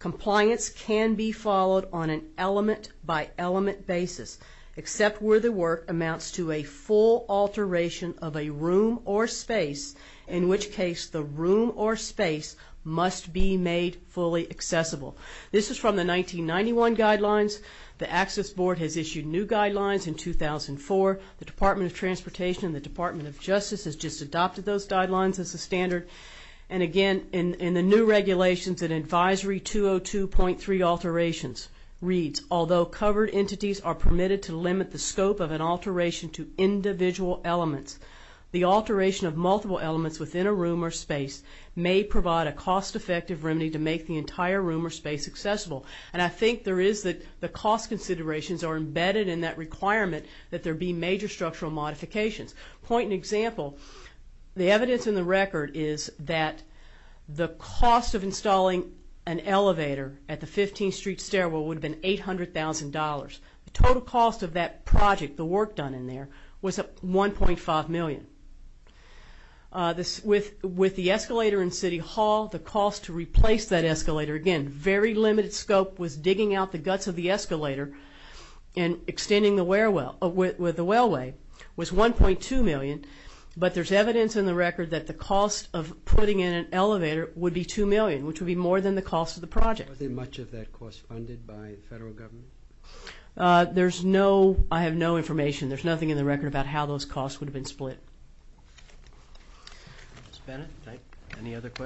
Compliance can be followed on an element-by-element basis, except where the work amounts to a full alteration of a room or space, in which case the room or space must be made fully accessible. This is from the 1991 guidelines. The Access Board has issued new guidelines in 2004. The Department of Transportation and the Department of Justice has just adopted those guidelines as a standard. And again, in the new regulations, in Advisory 202.3 alterations reads, although covered entities are permitted to limit the scope of an alteration to individual elements, the alteration of multiple elements within a room or space may provide a cost-effective remedy to make the entire room or space accessible. And I think there is the cost considerations are embedded in that requirement that there be major structural modifications. Point and example, the evidence in the record is that the cost of installing an elevator at the 15th Street stairwell would have been $800,000. The total cost of that project, the work done in there, was $1.5 million. With the escalator in City Hall, the cost to replace that escalator, again, very limited scope was digging out the guts of the escalator and extending the wellway, was $1.2 million. But there's evidence in the record that the cost of putting in an elevator would be $2 million, which would be more than the cost of the project. Was much of that cost funded by the federal government? I have no information. There's nothing in the record about how those costs would have been split. Ms. Bennett, any other questions?